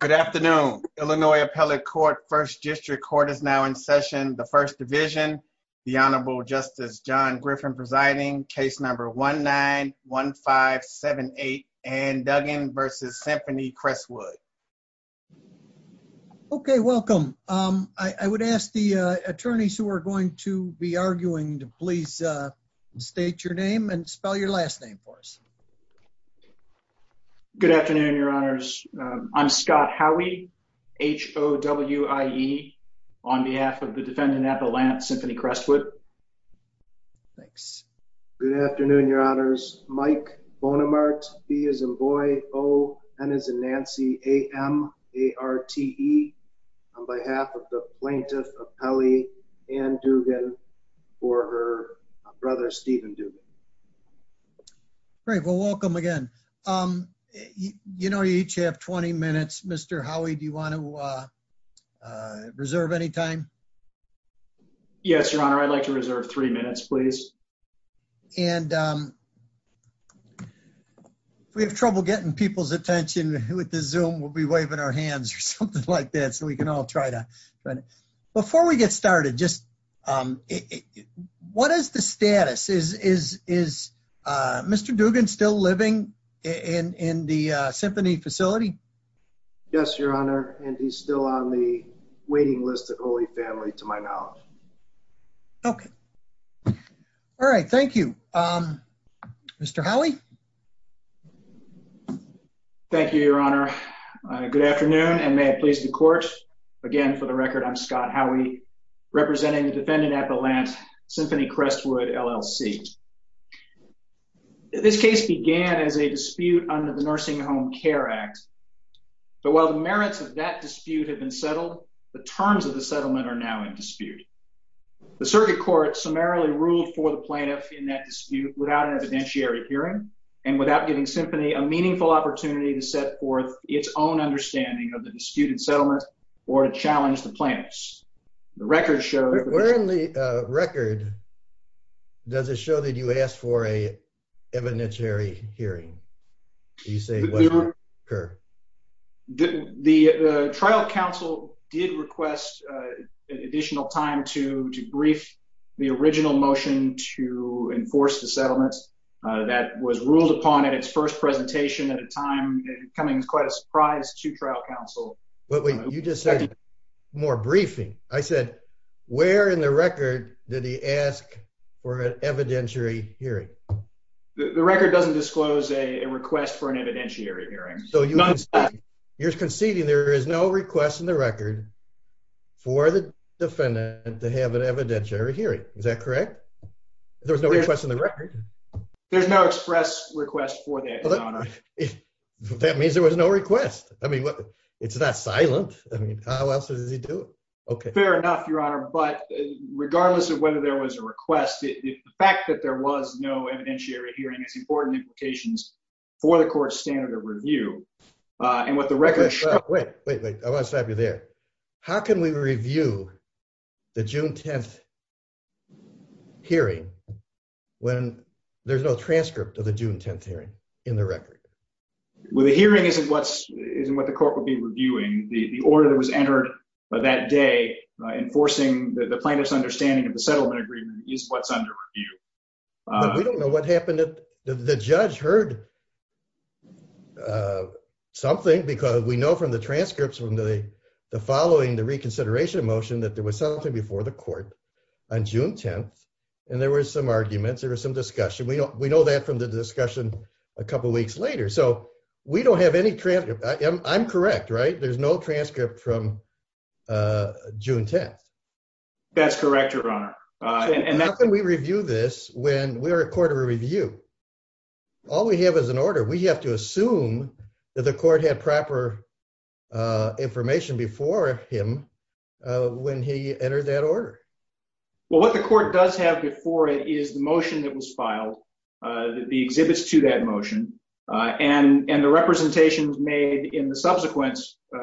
Good afternoon. Illinois Appellate Court First District Court is now in session. The First Division, the Honorable Justice John Griffin presiding, case number 1-9-1-5-7-8 and Duggan versus Symphony Cresswood. Okay, welcome. I would ask the attorneys who are going to be arguing to please state your name and spell your last name for us. Good afternoon, Your Honors. I'm Scott Howey, H-O-W-I-E, on behalf of the defendant Appellant Symphony Cresswood. Thanks. Good afternoon, Your Honors. Mike Bonamart, B as in boy, O as in Nancy, A-M-A-R-T-E, on behalf of the plaintiff Appellee, and Duggan for her brother Stephen Duggan. Great, well welcome again. You know you each have 20 minutes. Mr. Howey, do you want to reserve any time? Yes, Your Honor. I'd like to reserve three minutes, please. And if we have trouble getting people's attention with the Zoom, we'll be waving our hands or something like that so we can all try to. Before we get started, just what is the status? Is Mr. Duggan still living in the symphony facility? Yes, Your Honor, and he's still on the waiting list at Holy Family, to my knowledge. Okay, all right. Thank you. Mr. Howey? Thank you, Your Honor. Good afternoon, and may I please the court. Again, for the record, I'm Scott Howey, representing the defendant Appellant, Symphony Crestwood, LLC. This case began as a dispute under the Nursing Home Care Act, but while the merits of that dispute have been settled, the terms of the settlement are now in dispute. The circuit court summarily ruled for the plaintiff in that dispute without an evidentiary hearing and without giving Symphony a meaningful opportunity to set forth its own understanding of the disputed settlement or to challenge the plaintiffs. The record shows... Where in the record does it show that you asked for an evidentiary hearing? The trial counsel did request additional time to brief the original motion to enforce the settlement that was ruled upon at its first presentation at a time coming as quite a surprise to trial counsel. But wait, you just said more briefing. I said, where in the record did he ask for an evidentiary hearing? The record doesn't disclose a request for an evidentiary hearing. So you're conceding there is no request in the record for the defendant to have an evidentiary hearing. Is that correct? There was no request in the record? There's no express request for that, Your Honor. That means there was no request. I mean, it's not silent. I mean, how else does he do it? Fair enough, Your Honor, but regardless of whether there was a request, the fact that there was no evidentiary hearing has important implications for the court's standard of review. And what the record... Wait, wait, wait. I want to stop you there. How can we review the June 10th hearing when there's no transcript of the June 10th hearing in the record? Well, the hearing isn't what the court would be reviewing. The order that was entered that day enforcing the plaintiff's understanding of the settlement agreement is what's under review. We don't know what happened. The judge heard something because we know from the transcripts from the following, the reconsideration motion, that there was something before the court on June 10th, and there were some arguments, there was some discussion. We know that from the discussion a couple weeks later. So we don't have any transcript. I'm correct, right? There's no transcript from June 10th. That's correct, Your Honor. How can we review this when we are a court of review? All we have is an order. We have to assume that the court had proper information before him when he entered that order. Well, what the court does have before it is the motion that was filed, the exhibits to that motion, and the representations made in the subsequent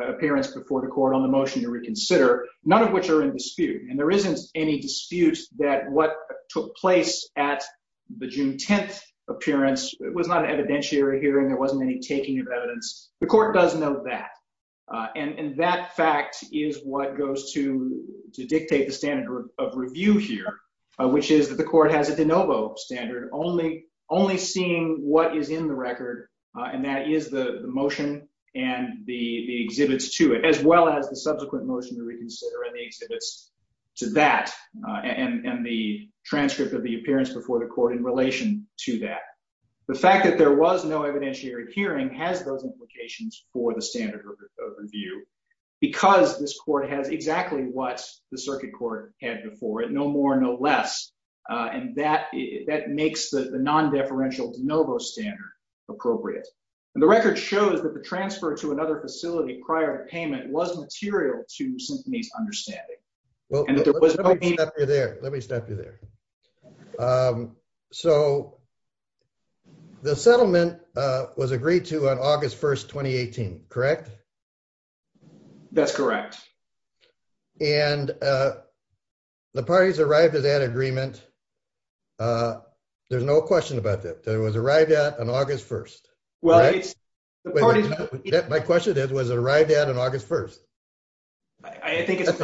appearance before the court on the motion to reconsider, none of which are in dispute. And there isn't any dispute that what took place at the June 10th appearance was not an undertaking of evidence. The court does know that. And that fact is what goes to dictate the standard of review here, which is that the court has a de novo standard, only seeing what is in the record, and that is the motion and the exhibits to it, as well as the subsequent motion to reconsider and the exhibits to that, and the transcript of the appearance before the court in relation to that. The fact that there was no evidentiary hearing has those implications for the standard of review because this court has exactly what the circuit court had before it, no more no less, and that makes the non-deferential de novo standard appropriate. And the record shows that the transfer to another facility prior to payment was material to Symphony's So, the settlement was agreed to on August 1st, 2018, correct? That's correct. And the parties arrived at that agreement, there's no question about that, it was arrived at on August 1st. My question is, was it arrived at on August 1st? I think it's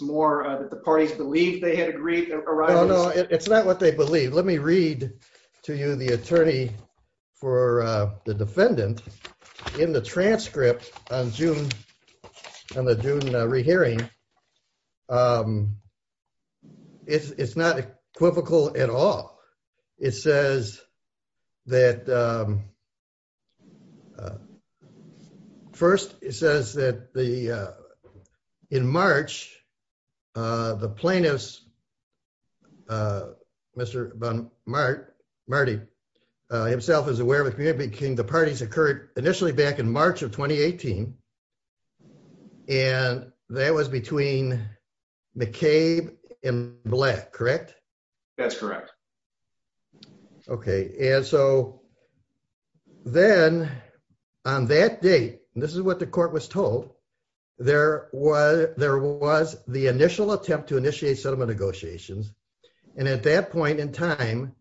more that the parties believed they had agreed. Oh no, it's not what they believed. Let me read to you the attorney for the defendant in the transcript on June, on the June rehearing. It's not equivocal at all. It says that, first it says that the, in plainness, Mr. Marty himself is aware of it, the parties occurred initially back in March of 2018 and that was between McCabe and Black, correct? That's correct. Okay, and so then on that date, this is what the court was told, there was the initial attempt to initiate settlement negotiations, and at that point in time,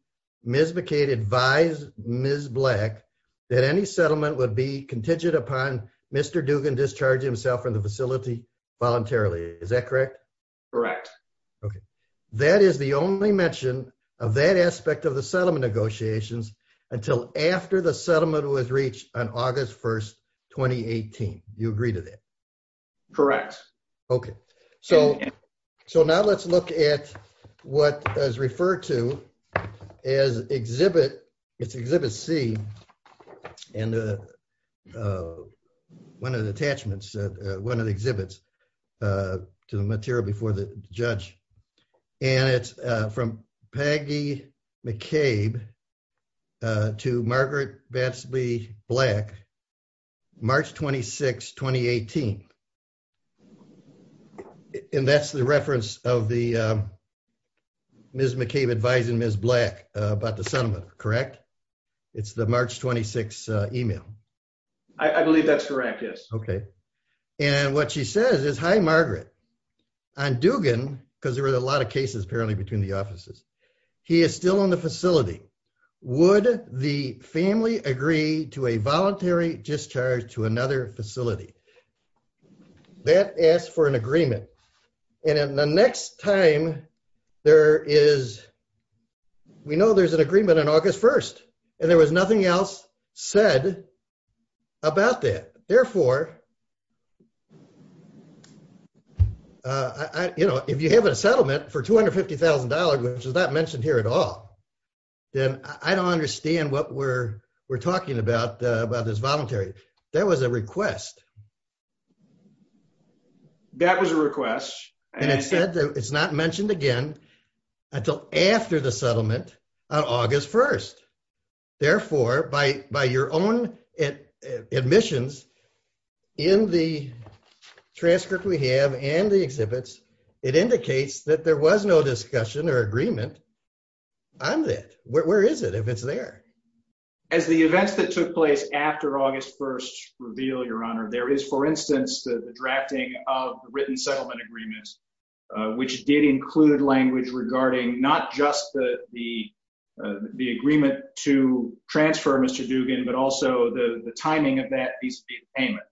Ms. McCabe advised Ms. Black that any settlement would be contingent upon Mr. Dugan discharging himself from the facility voluntarily, is that correct? Correct. Okay, that is the only mention of that aspect of the settlement negotiations until after the settlement was reached on August 1st, 2018. You agree to that? Correct. Okay, so now let's look at what is referred to as exhibit, it's exhibit C, and one of the attachments, one of the exhibits to the material before the judge, and it's from Peggy McCabe to Margaret Batsby Black, March 26, 2018, and that's the reference of the Ms. McCabe advising Ms. Black about the settlement, correct? It's the March 26 email. I believe that's correct, yes. Okay, and what she says is, hi Margaret, on Dugan, because there were a lot of cases apparently between the offices, he is still on the facility. Would the family agree to a voluntary discharge to another facility? That asks for an agreement, and in the next time there is, we know there's an agreement on August 1st, and there was nothing else said about that, therefore, you know, if you have a settlement for $250,000, which is not mentioned here at all, then I don't understand what we're talking about, about this voluntary. There was a request. That was a request, and it said that it's not mentioned again until after the settlement on August 1st. Therefore, by your own admissions in the transcript we have and the exhibits, it agreement, I'm that. Where is it if it's there? As the events that took place after August 1st reveal, your honor, there is, for instance, the drafting of written settlement agreements, which did include language regarding not just the the agreement to transfer Mr. Dugan, but also the timing of that piece of payment.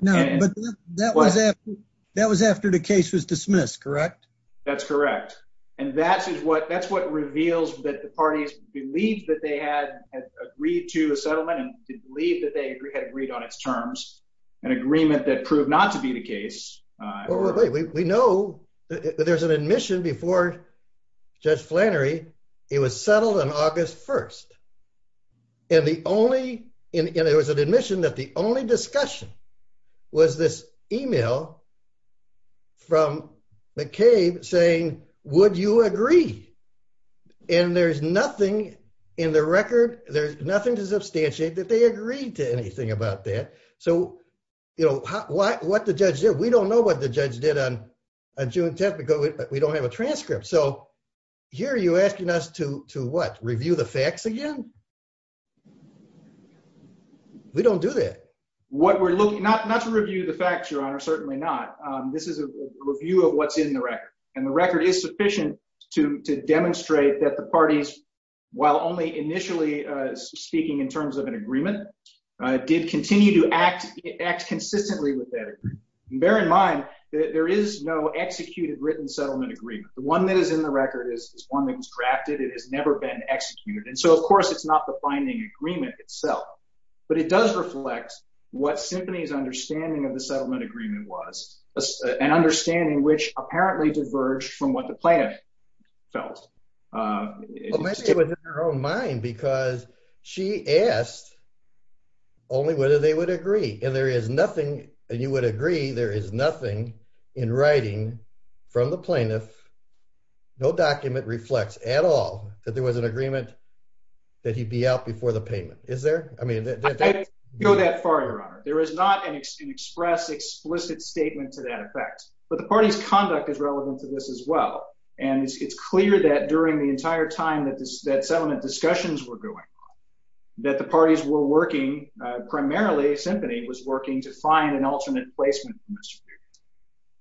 No, but that was after the case was dismissed, correct? That's correct, and that's what that's what reveals that the parties believed that they had agreed to a settlement and believed that they had agreed on its terms, an agreement that proved not to be the case. We know that there's an admission before Judge Flannery, it was settled on August 1st, and the only, and there was an admission that the only discussion was this email from McCabe saying, would you agree? And there's nothing in the record, there's nothing to substantiate that they agreed to anything about that. So, you know, what the judge did, we don't know what the judge did on June 10th because we don't have a transcript. So here you're asking us to, to what, review the facts again? We don't do that. What we're looking, not to review the facts, your honor, certainly not. This is a review of what's in the record, and the record is sufficient to, to demonstrate that the parties, while only initially speaking in terms of an agreement, did continue to act, act consistently with that. Bear in mind that there is no executed written settlement agreement. The one that is in the record is one that was drafted, it has never been executed, and so of course it's not the binding agreement itself, but it does reflect what Symphony's understanding of the settlement agreement was, an understanding which apparently diverged from what the plaintiff felt. Well maybe it was in her own mind because she asked only whether they would agree, and there is nothing, and you would agree there is nothing in writing from the plaintiff, no document reflects at all that there was an agreement that he'd be out before the payment, is there? I mean, I didn't go that far, your honor. There is not an express, explicit statement to that effect, but the party's conduct is relevant to this as well, and it's clear that during the entire time that this, that settlement discussions were going on, that the parties were working, primarily Symphony was working to find an alternate placement.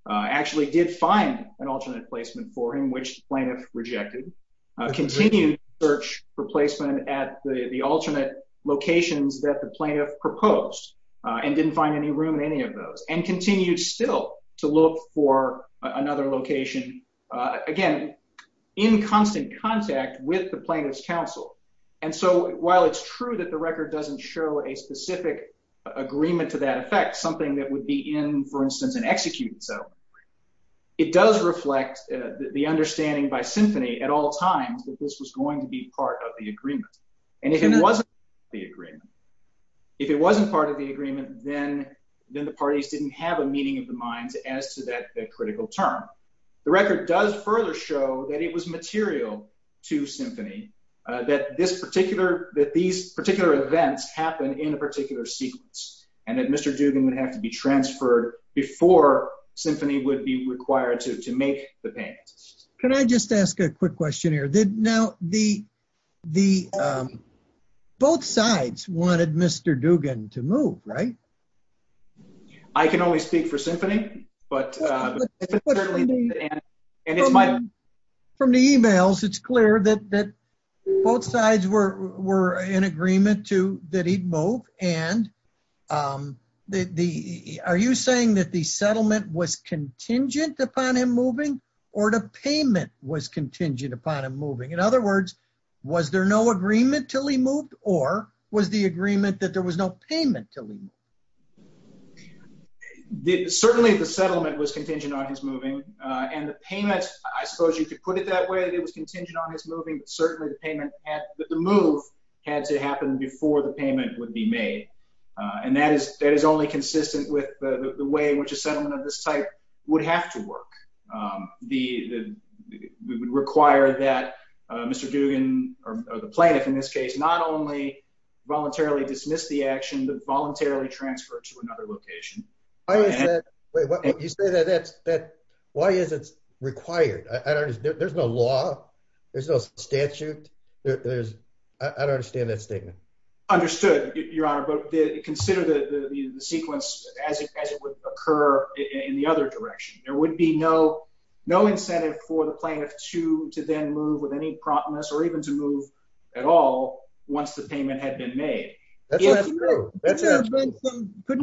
Actually did find an alternate placement for him, which the plaintiff rejected. Continued search for placement at the, the alternate locations that the plaintiff had proposed, and didn't find any room in any of those, and continued still to look for another location, again, in constant contact with the plaintiff's counsel, and so while it's true that the record doesn't show a specific agreement to that effect, something that would be in, for instance, an executed settlement, it does reflect the understanding by Symphony at all times that this was going to be part of the agreement, then, then the parties didn't have a meeting of the minds as to that critical term. The record does further show that it was material to Symphony, that this particular, that these particular events happen in a particular sequence, and that Mr. Dugan would have to be transferred before Symphony would be required to, to make the payment. Can I just ask a quick question here. Now, the, the, both sides wanted Mr. Dugan to move, right? I can only speak for Symphony, but, and it's my... From the emails, it's clear that both sides were, were in agreement to, that he'd move, and the, are you saying that the In other words, was there no agreement till he moved, or was the agreement that there was no payment till he moved? Certainly the settlement was contingent on his moving, and the payment, I suppose you could put it that way, that it was contingent on his moving, but certainly the payment, the move had to happen before the payment would be made, and that is, that is only consistent with the way in which a settlement of this type would have to work. The, the, it would require that Mr. Dugan, or the plaintiff in this case, not only voluntarily dismiss the action, but voluntarily transfer it to another location. Why is that, wait, what, you say that, that's, that, why is it required? I don't understand, there's no law, there's no statute, there's, I don't understand that statement. Understood, Your Honor, but consider the, the sequence as it would occur in the other direction. There would be no, no incentive for the plaintiff to, to then move with any promptness, or even to move at all once the payment had been made. Couldn't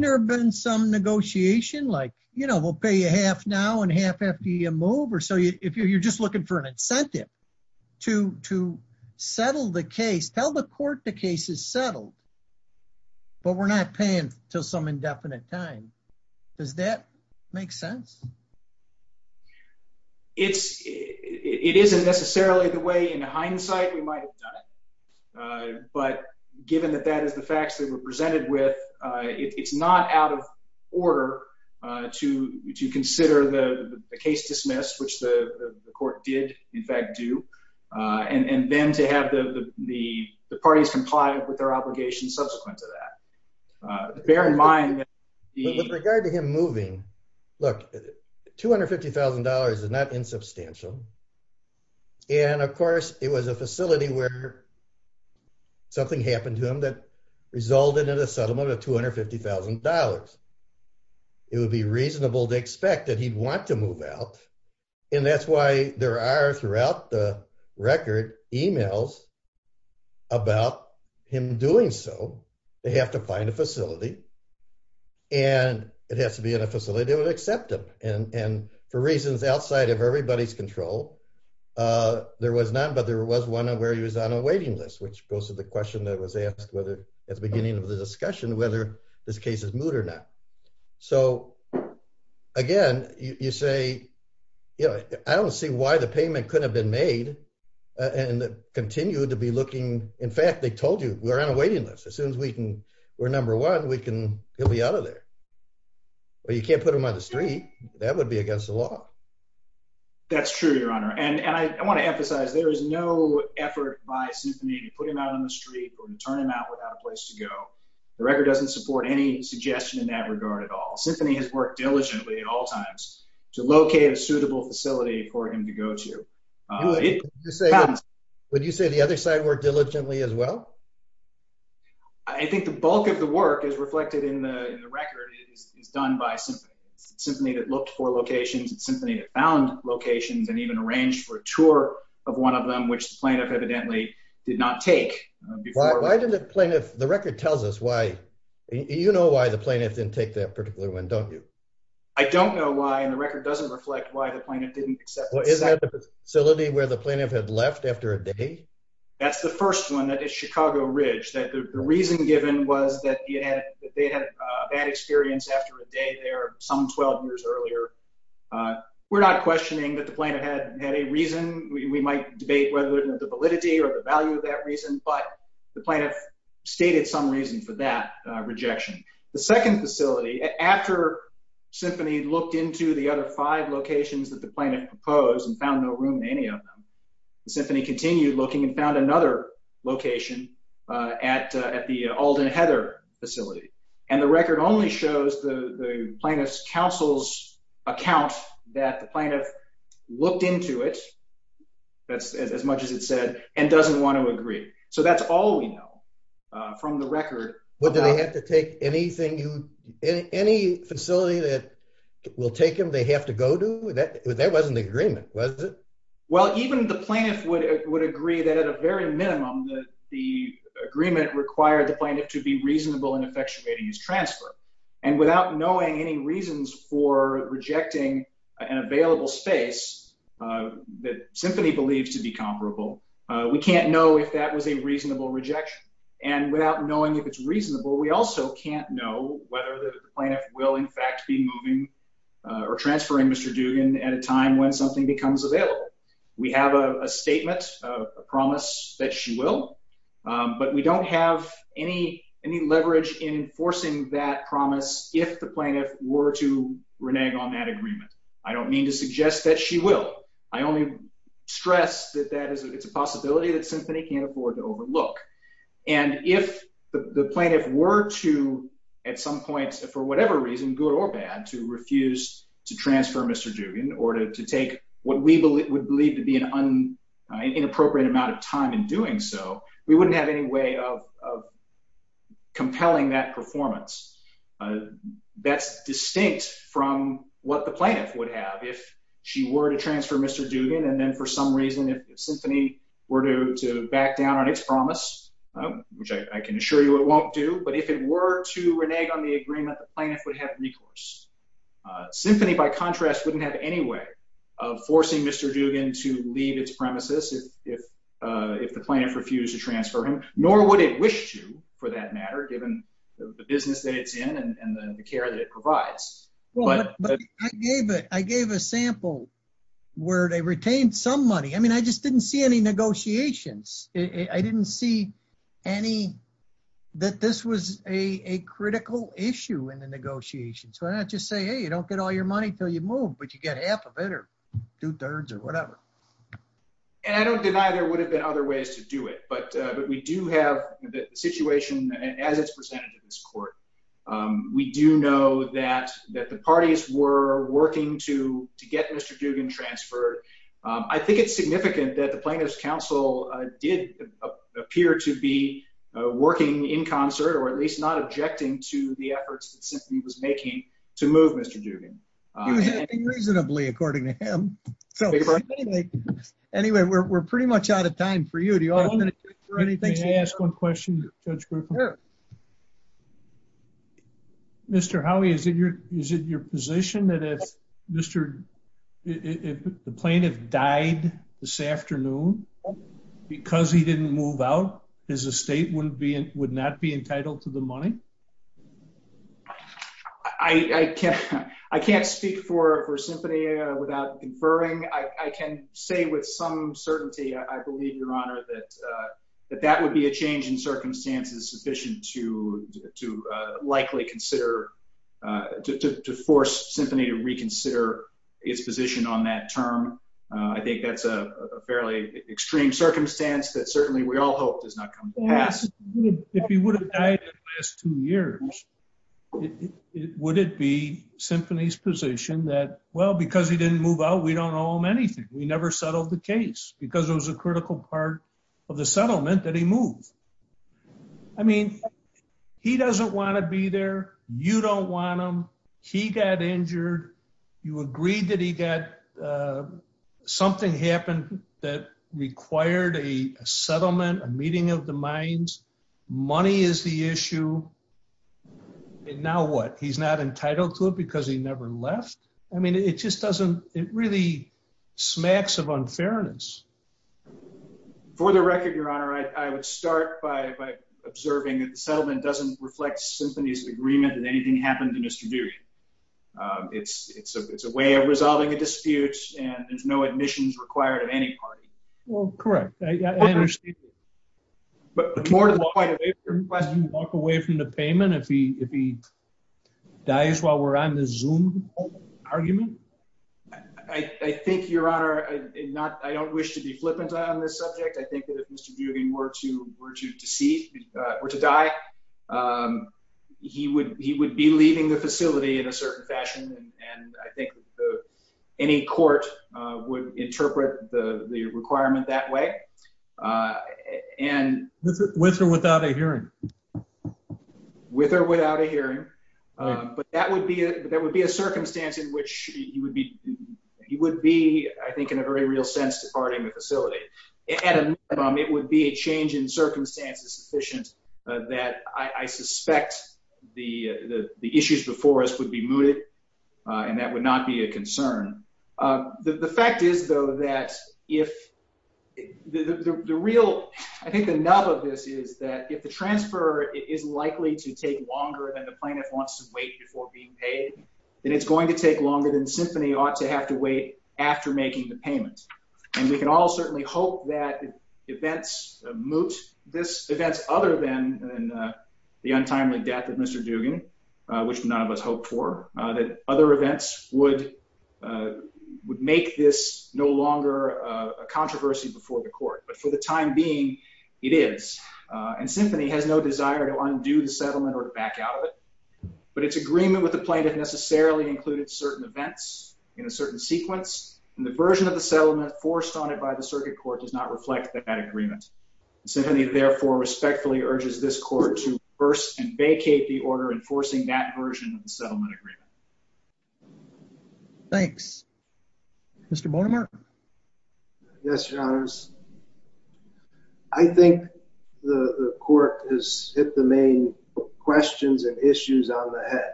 there have been some negotiation, like, you know, we'll pay you half now, and half after you move, or so you, if you're just looking for an incentive to, to settle the case, tell the court the case is settled, but we're not paying until some indefinite time. Does that make sense? It's, it isn't necessarily the way in hindsight we might have done it, but given that that is the facts that were presented with, it's not out of order to, to consider the case dismissed, which the court did, in fact do, and, and then to have the, the, the parties comply with their obligations subsequent to that. Bear in mind... With regard to him moving, look, $250,000 is not insubstantial, and of course, it was a facility where something happened to him that resulted in a settlement of $250,000. It would be reasonable to expect that he'd want to move out, and that's why there are, throughout the record, emails about him doing so. They have to find a facility, and it has to be in a facility that would accept him, and, and for reasons outside of everybody's control, there was none, but there was one where he was on a waiting list, which goes to the question that was asked whether, at the beginning of the case, again, you say, you know, I don't see why the payment couldn't have been made, and continued to be looking... In fact, they told you, we're on a waiting list. As soon as we can, we're number one, we can, he'll be out of there. Well, you can't put him on the street. That would be against the law. That's true, Your Honor, and, and I want to emphasize, there is no effort by Symphony to put him out on the street or turn him out without a place to go. The record doesn't support any suggestion in that regard at all. Symphony has worked diligently at all times to locate a suitable facility for him to go to. Would you say the other side worked diligently as well? I think the bulk of the work is reflected in the record, is done by Symphony. It's Symphony that looked for locations, it's Symphony that found locations, and even arranged for a tour of one of them, which the plaintiff evidently did not take. Why did the plaintiff, the record tells us why, you know why the plaintiff didn't take that particular one, don't you? I don't know why, and the record doesn't reflect why the plaintiff didn't accept it. Is that the facility where the plaintiff had left after a day? That's the first one, that is Chicago Ridge, that the reason given was that they had a bad experience after a day there, some 12 years earlier. We're not questioning that the plaintiff had, had a reason. We might debate whether the validity or the value of that reason, but the plaintiff stated some reason for that rejection. The second facility, after Symphony looked into the other five locations that the plaintiff proposed and found no room in any of them, the Symphony continued looking and found another location at at the Alden Heather facility, and the record only shows the plaintiff's counsel's account that the plaintiff looked into it, that's as much as it said, and doesn't want to agree. So that's all we know from the record. Would they have to take anything, any facility that will take him they have to go to? That wasn't the agreement, was it? Well, even the plaintiff would agree that at a very minimum, the agreement required the plaintiff to be reasonable in effectuating his transfer, and without knowing any reasons for rejecting an available space that Symphony believes to be comparable, we can't know if that was a reasonable rejection, and without knowing if it's reasonable, we also can't know whether the plaintiff will in fact be moving or transferring Mr. Dugan at a time when something becomes available. We have a statement, a promise that she will, but we don't have any, any leverage in enforcing that promise if the plaintiff were to say that she will. I only stress that that is, it's a possibility that Symphony can't afford to overlook, and if the plaintiff were to, at some point, for whatever reason, good or bad, to refuse to transfer Mr. Dugan, or to take what we would believe to be an inappropriate amount of time in doing so, we wouldn't have any way of compelling that performance. That's distinct from what the plaintiff would have if she were to transfer Mr. Dugan, and then for some reason, if Symphony were to back down on its promise, which I can assure you it won't do, but if it were to renege on the agreement, the plaintiff would have recourse. Symphony, by contrast, wouldn't have any way of forcing Mr. Dugan to leave its premises if the plaintiff refused to transfer him, nor would it wish to, for that matter, given the business that it's in and the care that it provides. I gave a sample where they retained some money. I mean, I just didn't see any negotiations. I didn't see any, that this was a critical issue in the negotiations. Why not just say, hey, you don't get all your money till you move, but you get half of it, or two-thirds, or whatever. And I don't deny there would have been other ways to do it, but we do have the situation as it's presented to this court. We do know that the parties were working to get Mr. Dugan transferred. I think it's significant that the Plaintiff's Counsel did appear to be working in concert, or at least not objecting to the efforts that Symphony was making to move Mr. Dugan. He was acting reasonably, according to him. Anyway, we're pretty much out of time for you. Do you want to finish, or anything? May I ask one question, Judge Griffin? Sure. Mr. Howey, is it your position that if the Plaintiff died this afternoon, because he didn't move out, his estate would not be entitled to the money? I can't speak for Symphony without conferring. I can say with some certainty, I believe, Your Honor, that that would be a change in circumstances sufficient to likely consider, to force Symphony to reconsider its position on that term. I think that's a fairly extreme circumstance that certainly we all hope does not come to pass. If he would have died in the last two years, would it be Symphony's position that, well, because he didn't move out, we don't owe him anything. We never settled the case, because it was a critical part of the settlement that he moved. I mean, he doesn't want to be there. You don't want him. He got injured. You agreed that he got, something happened that required a settlement, a meeting of the minds. Money is the issue. Now what? He's not entitled to it because he never left? I mean, it just doesn't, it really smacks of unfairness. For the record, Your Honor, I would start by observing that the settlement doesn't reflect Symphony's agreement that anything happened in Estradurian. It's a way of resolving a dispute, and there's no admissions required of any party. Well, correct. I understand that. But more to the point of your question, does he walk away from the payment if he dies while we're on the Zoom argument? I think, Your Honor, I don't wish to be flippant on this subject. I think that if Mr. Duggan were to die, he would be leaving the facility in a certain fashion, and I think any court would interpret the with or without a hearing. But that would be, there would be a circumstance in which he would be, I think, in a very real sense departing the facility. At a minimum, it would be a change in circumstances sufficient that I suspect the issues before us would be mooted, and that would not be a concern. The fact is, however, it is likely to take longer than the plaintiff wants to wait before being paid, and it's going to take longer than Symphony ought to have to wait after making the payment. And we can all certainly hope that events moot this, events other than the untimely death of Mr. Duggan, which none of us hoped for, that other events would make this no longer a controversy before the court. But for the time being, it is. And Symphony has no desire to undo the settlement or to back out of it, but its agreement with the plaintiff necessarily included certain events in a certain sequence, and the version of the settlement forced on it by the circuit court does not reflect that agreement. Symphony therefore respectfully urges this court to reverse and vacate the order enforcing that version of the settlement agreement. Thanks. Mr. Bormer? Yes, Your Honors. I think the court has hit the main questions and issues on the head.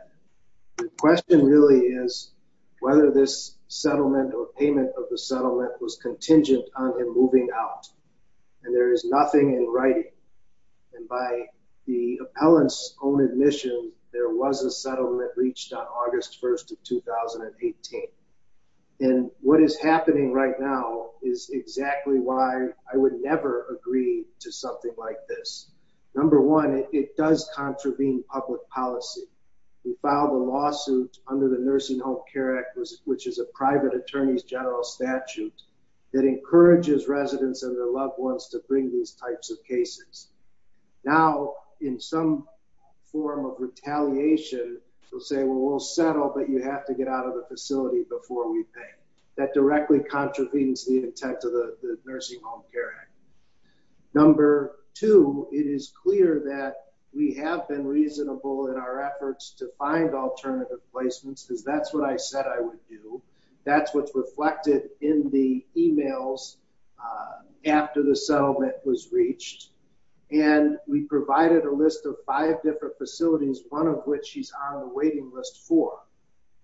The question really is whether this settlement or payment of the settlement was contingent on him moving out, and there is nothing in writing. And by the appellant's own admission, there was a settlement on August 1st of 2018. And what is happening right now is exactly why I would never agree to something like this. Number one, it does contravene public policy. We filed a lawsuit under the Nursing Home Care Act, which is a private attorney's general statute that encourages residents and their loved ones to bring these types of cases. Now, in some form of you have to get out of the facility before we pay. That directly contravenes the intent of the Nursing Home Care Act. Number two, it is clear that we have been reasonable in our efforts to find alternative placements, because that's what I said I would do. That's what's reflected in the emails after the settlement was reached. And we provided a list of five different facilities, one of which he's on the waiting list for.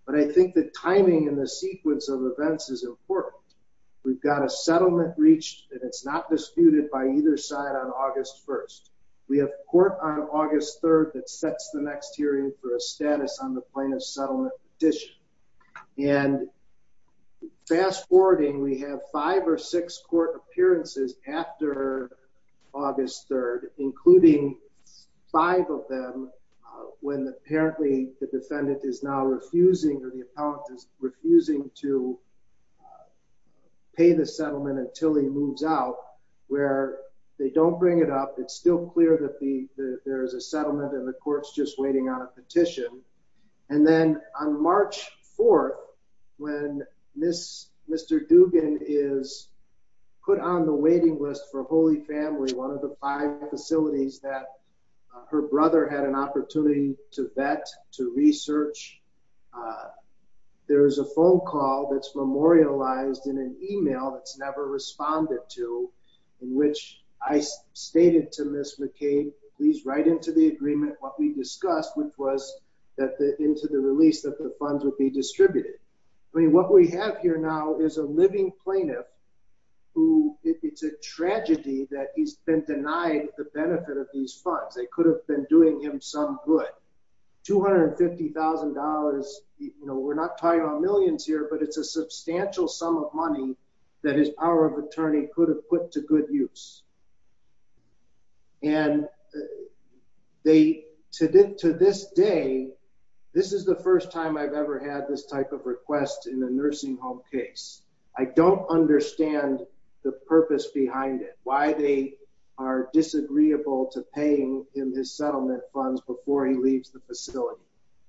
But I think the timing and the sequence of events is important. We've got a settlement reached, and it's not disputed by either side on August 1st. We have court on August 3rd that sets the next hearing for a status on the plaintiff's settlement petition. And fast-forwarding, we have five or six court appearances after August 3rd, including five of them, when apparently the defendant is now refusing or the appellant is refusing to pay the settlement until he moves out, where they don't bring it up. It's still clear that there is a settlement and the court's just waiting on a petition. And then on March 4th, when Mr. Dugan is put on the waiting list for Holy Family, one of the five facilities that her brother had an opportunity to vet, to research, there is a phone call that's memorialized in an email that's never responded to, in which I stated to Ms. McCain, please write into the agreement what we discussed, which was that into the release that the funds would be distributed. I mean, what we have here now is a living plaintiff who, it's a tragedy that he's been denied the benefit of these funds. They could have been doing him some good. $250,000, you know, we're not talking about millions here, but it's a substantial sum of money that his power of attorney could have put to good use. And they, to this day, this is the first time I've ever had this type of request in a nursing home case. I don't understand the purpose behind it, why they are disagreeable to paying him his settlement funds before he leaves the facility.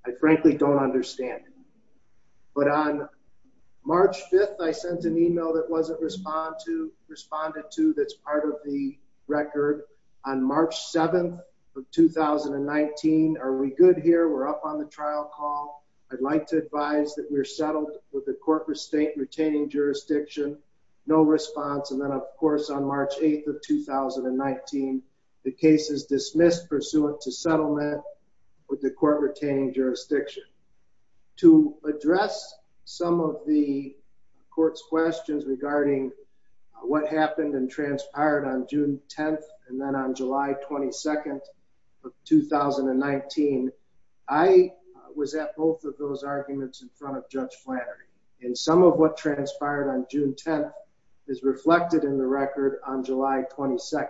I frankly don't understand it. But on March 5th, I sent an email that wasn't responded to that's part of the record. On March 7th of 2019, are we good here? We're up on the trial call. I'd like to advise that we're settled with the court retaining jurisdiction. No response. And then, of course, on March 8th of 2019, the case is dismissed pursuant to settlement with the court retaining jurisdiction. To address some of the court's questions regarding what happened and transpired on June 10th and then on July 22nd of 2019, I was at both of those arguments in front of Judge Flannery. And some of what transpired on June 10th is reflected in the record on July 22nd.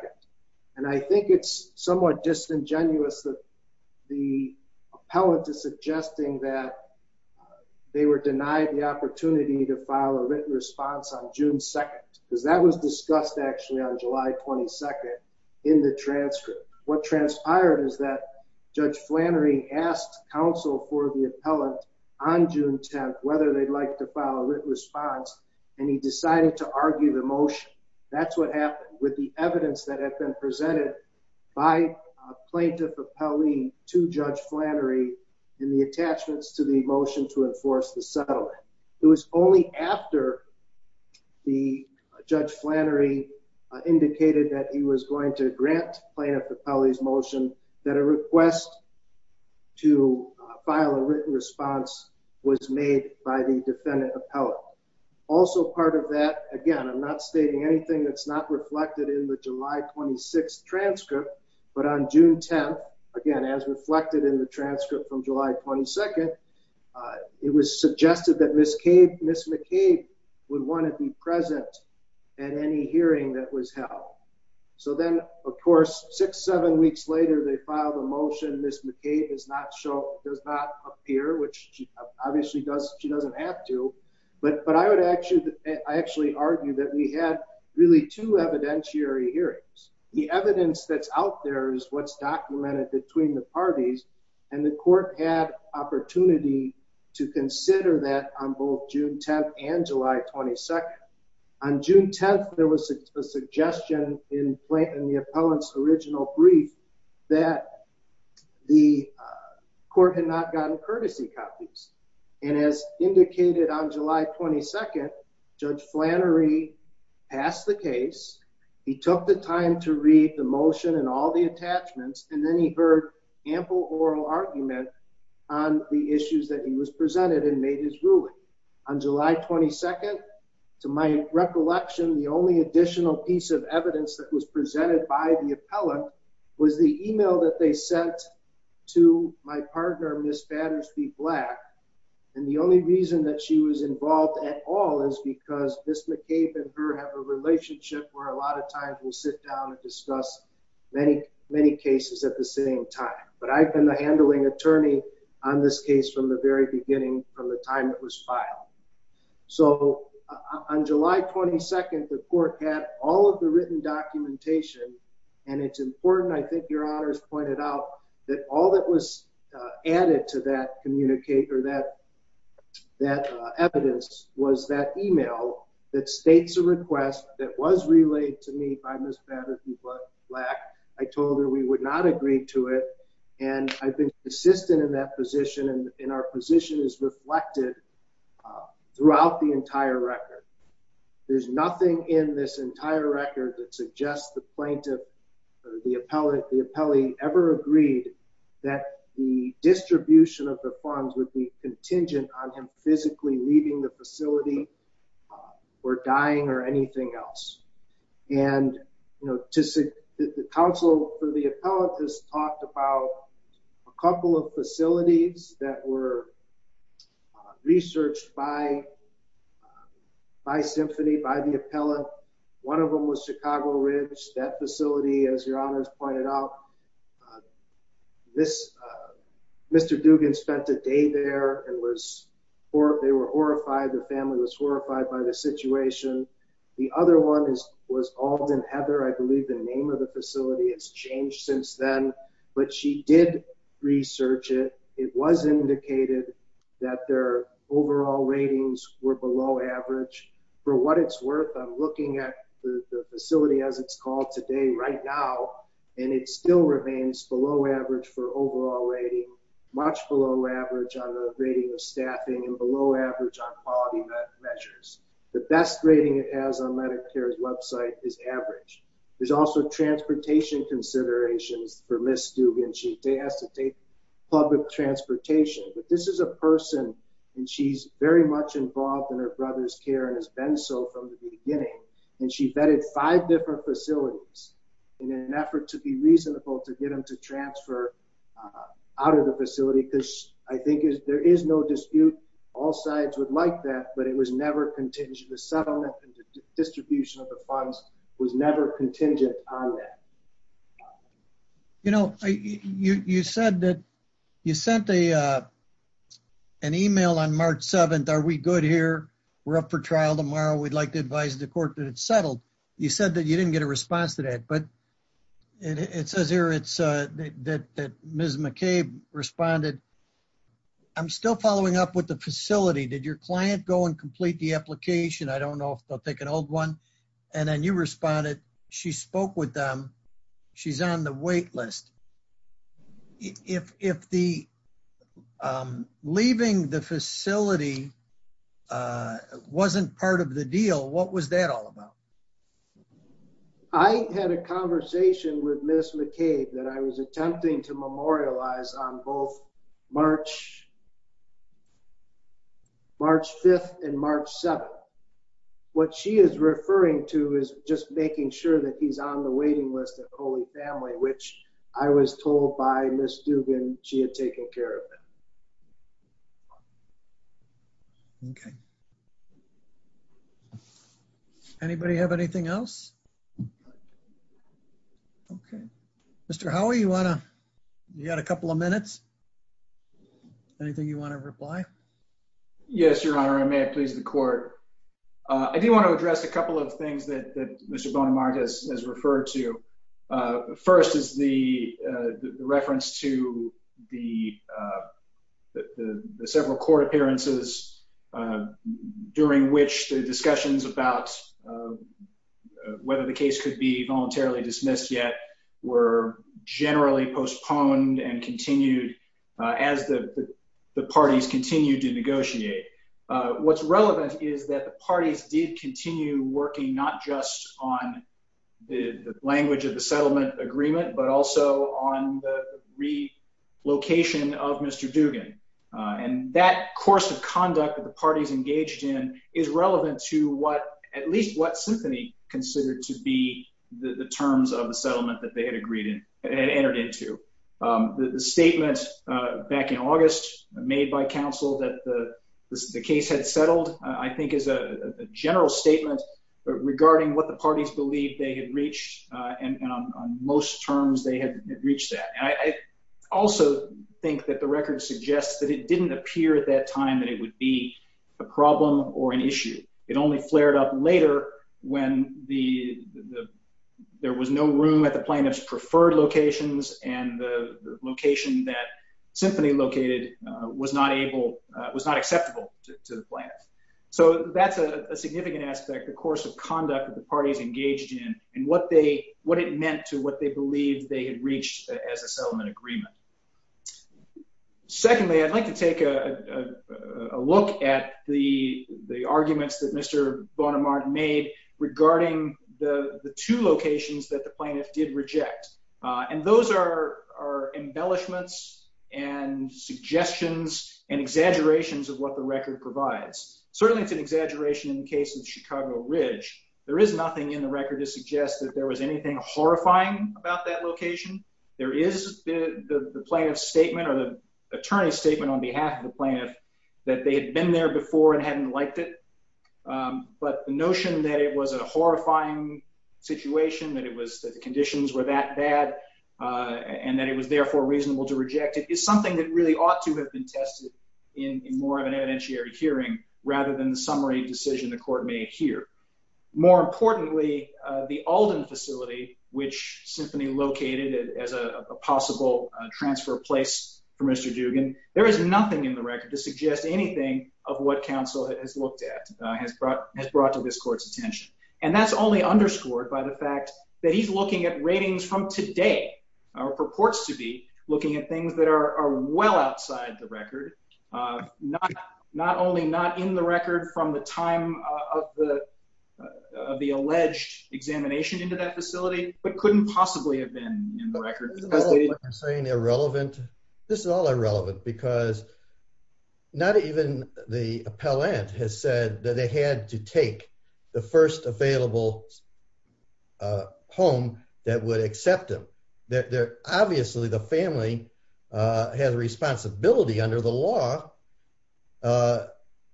And I think it's somewhat disingenuous that the appellate is suggesting that they were denied the opportunity to file a written response on July 22nd in the transcript. What transpired is that Judge Flannery asked counsel for the appellant on June 10th whether they'd like to file a written response and he decided to argue the motion. That's what happened with the evidence that had been presented by a plaintiff appellee to Judge Flannery in the attachments to the that he was going to grant plaintiff appellee's motion that a request to file a written response was made by the defendant appellate. Also part of that, again, I'm not stating anything that's not reflected in the July 26th transcript, but on June 10th, again as reflected in the transcript from July 22nd, it was suggested that Ms. McCabe would want to be present at any hearing that was held. So then, of course, six, seven weeks later they filed a motion. Ms. McCabe does not appear, which obviously she doesn't have to, but I would actually argue that we had really two evidentiary hearings. The evidence that's out there is what's documented between the parties and the court had opportunity to consider that on both June 10th and July 22nd. On June 10th, there was a suggestion in the appellant's original brief that the court had not gotten courtesy copies and as indicated on July 22nd, Judge Flannery passed the case. He took the time to read the motion and all the attachments and then he heard ample oral argument on the issues that he was presented and made his case. On July 22nd, to my recollection, the only additional piece of evidence that was presented by the appellant was the email that they sent to my partner, Ms. Battersby Black, and the only reason that she was involved at all is because Ms. McCabe and her have a relationship where a lot of times we sit down and discuss many cases at the same time, but I've been the handling attorney on this case from the very beginning, from the time it was filed. So on July 22nd, the court had all of the written documentation and it's important, I think your honors pointed out, that all that was added to that communicator that that evidence was that email that states a request that was relayed to me by Ms. Battersby Black. I told her we would not agree to it and I've been persistent in that position and our position is reflected throughout the entire record. There's nothing in this entire record that suggests the plaintiff, the appellate, the appellee ever agreed that the distribution of the funds would be contingent on him physically leaving the facility or dying or anything else. And, you know, the counsel for the appellate has talked about a couple of facilities that were researched by Symphony, by the appellate. One of them was Chicago Ridge, that facility as your honors pointed out, Mr. Dugan spent a day there and they were horrified, the family was horrified by the was Alden Heather, I believe the name of the facility has changed since then, but she did research it. It was indicated that their overall ratings were below average. For what it's worth, I'm looking at the facility as it's called today right now and it still remains below average for overall rating, much below average on the rating of staffing and below average on quality measures. The best rating it has on Medicare's website is average. There's also transportation considerations for Ms. Dugan, she has to take public transportation, but this is a person and she's very much involved in her brother's care and has been so from the beginning. And she vetted five different facilities in an effort to be reasonable to get him to transfer out of the facility, because I think there is no dispute, all sides would like that, but it was never contingent. The settlement and distribution of the funds was never contingent on that. You know, you said that you sent a, uh, an email on March 7th. Are we good here? We're up for trial tomorrow. We'd like to advise the court that it's settled. You said that you didn't get a response to that, but it says here, it's that Ms McCabe responded. I'm still following up with the facility. Did your client go and complete the application? I don't know if they'll take an old one. And then you responded. She spoke with them. She's on the wait list. If the, um, leaving the facility, uh, wasn't part of the deal, what was that all about? I had a conversation with Ms. McCabe that I was attempting to memorialize on both March, March 5th and March 7th. What she is referring to is just making sure that he's on the waiting list of Holy Family, which I was told by Ms. Dugan, she had taken care of it. Okay. Anybody have anything else? Okay. Mr Howie, you wanna? You got a couple of minutes. Anything you want to reply? Yes, Your Honor. I may have pleased the court. I do want to address a couple of things that Mr Bonamart has referred to. Uh, first is the reference to the, uh, the several court appearances, uh, during which the discussions about, uh, whether the case could be voluntarily dismissed yet were generally postponed and continued as the parties continue to negotiate. What's relevant is that the parties did continue working not just on the language of the settlement agreement, but also on the relocation of Mr Dugan. And that course of conduct that the parties engaged in is relevant to what, at least what Symphony considered to be the terms of the settlement that they had agreed and entered into. The statement back in August made by counsel that the case had settled, I think, is a general statement regarding what the parties believe they had reached. And on most terms, they had reached that. I also think that the record suggests that it didn't appear at that time that it would be a problem or an issue. It only flared up later when the there was no room at the plaintiff's preferred locations and the location that Symphony located was not able, was not acceptable to the plans. So that's a significant aspect. The course of conduct that the parties engaged in and what they what it meant to what they believed they had reached as a settlement agreement. Secondly, I'd like to take a look at the the arguments that Mr. Bonamarte made regarding the the two locations that the plaintiff did reject. And those are embellishments and suggestions and exaggerations of what the record provides. Certainly it's an exaggeration in the case of Chicago Ridge. There is nothing in the record to horrifying about that location. There is the plaintiff's statement or the attorney's statement on behalf of the plaintiff that they had been there before and hadn't liked it. But the notion that it was a horrifying situation, that it was that the conditions were that bad and that it was therefore reasonable to reject it is something that really ought to have been tested in more of an evidentiary hearing rather than the summary decision the Alden facility which Symphony located as a possible transfer place for Mr. Dugan. There is nothing in the record to suggest anything of what counsel has looked at has brought has brought to this court's attention. And that's only underscored by the fact that he's looking at ratings from today or purports to be looking at things that are well outside the record. Not only not in the record from the time of the of the alleged examination into that facility but couldn't possibly have been in the record. This is all irrelevant because not even the appellant has said that they had to take the first available home that would accept them. Obviously the law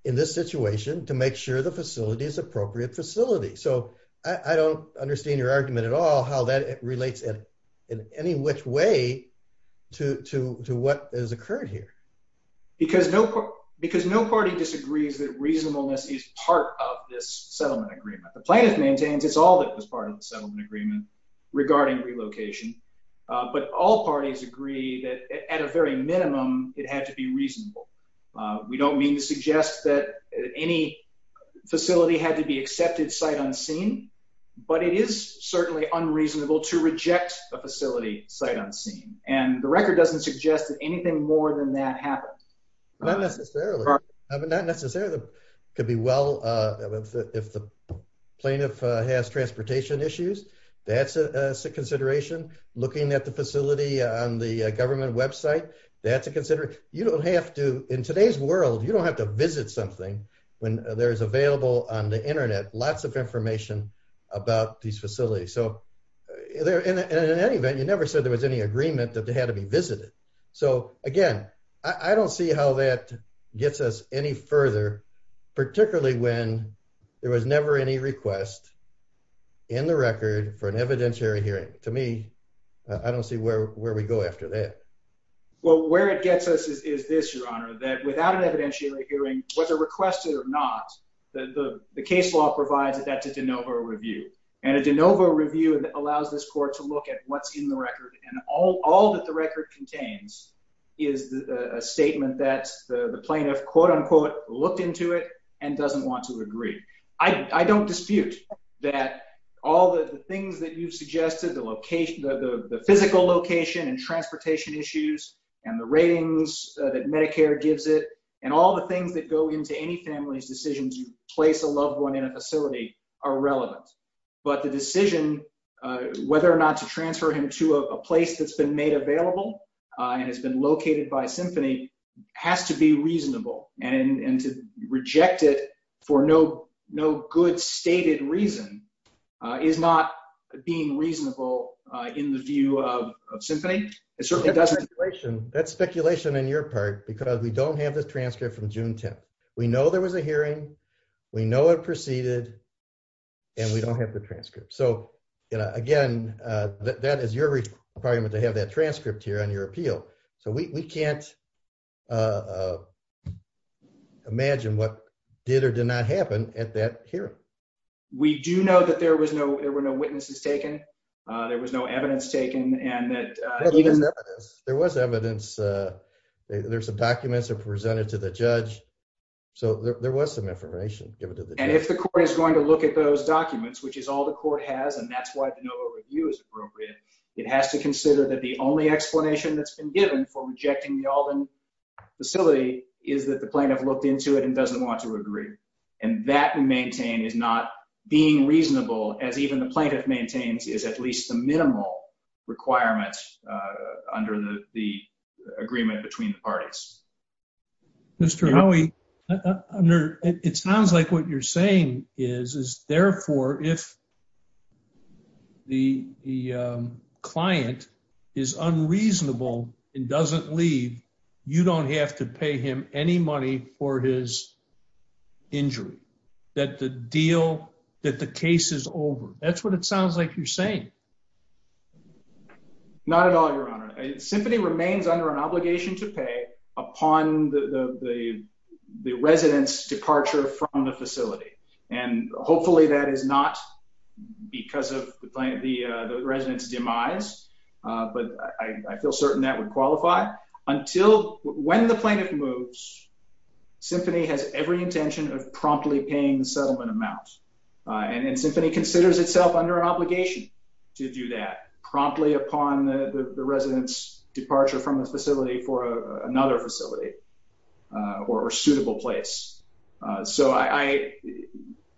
in this situation to make sure the facility is appropriate facility. So I don't understand your argument at all how that relates in any which way to to what has occurred here. Because no because no party disagrees that reasonableness is part of this settlement agreement. The plaintiff maintains it's all that was part of the settlement agreement regarding relocation. But all parties agree that at a very minimum it had to be reasonable. We don't mean to suggest that any facility had to be accepted sight unseen. But it is certainly unreasonable to reject a facility sight unseen. And the record doesn't suggest that anything more than that happened. Not necessarily. Not necessarily. Could be well if the plaintiff has transportation issues that's a consideration. Looking at the facility on the government website that's a consider. You don't have to in today's world you don't have to visit something when there is available on the internet lots of information about these facilities. So in any event you never said there was any agreement that they had to be visited. So again I don't see how that gets us any further particularly when there was never any request in the record for an evidentiary hearing. To me I don't see where where we go after that. Well where it gets us is this your honor that without an evidentiary hearing whether requested or not the the case law provides that to de novo review. And a de novo review that allows this court to look at what's in the record and all all that the record contains is a statement that the plaintiff quote-unquote looked into it and doesn't want to agree. I don't dispute that all the things that you've suggested the location of the physical location and transportation issues and the ratings that Medicare gives it and all the things that go into any family's decisions you place a loved one in a facility are relevant. But the decision whether or not to transfer him to a place that's been made available and has been located by Symphony has to be reasonable and and to reject it for no no good stated reason is not being reasonable in the view of Symphony. It certainly doesn't. That's speculation in your part because we don't have the transcript from June 10th. We know there was a hearing, we know it proceeded, and we don't have the transcript. So you know again that is your requirement to have that transcript here on your appeal. So we can't imagine what did or did not happen at that hearing. We do know that there was no there were no witnesses taken, there was no evidence taken, and there was evidence there's some documents are presented to the judge so there was some information given to the and if the court is going to look at those documents which is all the court has and that's why the NOVA review is appropriate, it has to consider that the only explanation that's been given for rejecting the Alden facility is that the plaintiff looked into it and doesn't want to agree. And that we maintain is not being reasonable as even the plaintiff maintains is at least the minimal requirements under the agreement between the parties. Mr. Howie, it sounds like what you're saying is is therefore if the client is unreasonable and doesn't leave, you don't have to pay him any money for his injury. That the deal that the case is over. That's what it sounds like you're saying. Not at all Your Honor. Symphony remains under an obligation to pay upon the residents departure from the facility and hopefully that is not because of the resident's demise but I feel certain that would qualify until when the plaintiff moves, Symphony has every intention of promptly paying the settlement amount and Symphony considers itself under an obligation to do that promptly upon the residents departure from the facility for another facility or suitable place. So I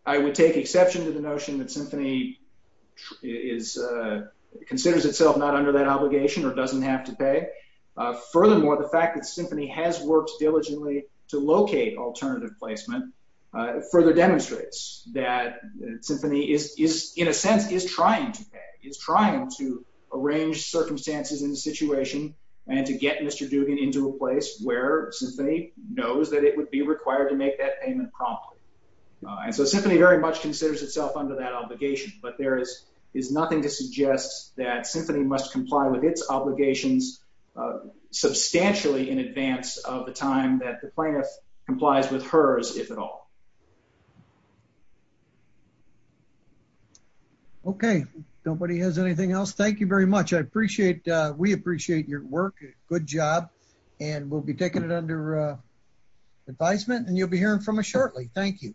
would take exception to the notion that Symphony considers itself not under that obligation or doesn't have to pay. Furthermore, the fact that Symphony has worked diligently to locate alternative placement further demonstrates that Symphony is in a sense is trying to pay, is trying to arrange circumstances in the situation and to get Mr. Dugan into a place where Symphony knows that it would be required to make that payment promptly. And so Symphony very much considers itself under that obligation but there is is nothing to suggest that Symphony must comply with its obligations substantially in advance of the time that the plaintiff complies with hers if at all. Okay. Nobody has anything else. Thank you very much. I And we'll be taking it under advisement and you'll be hearing from us shortly. Thank you.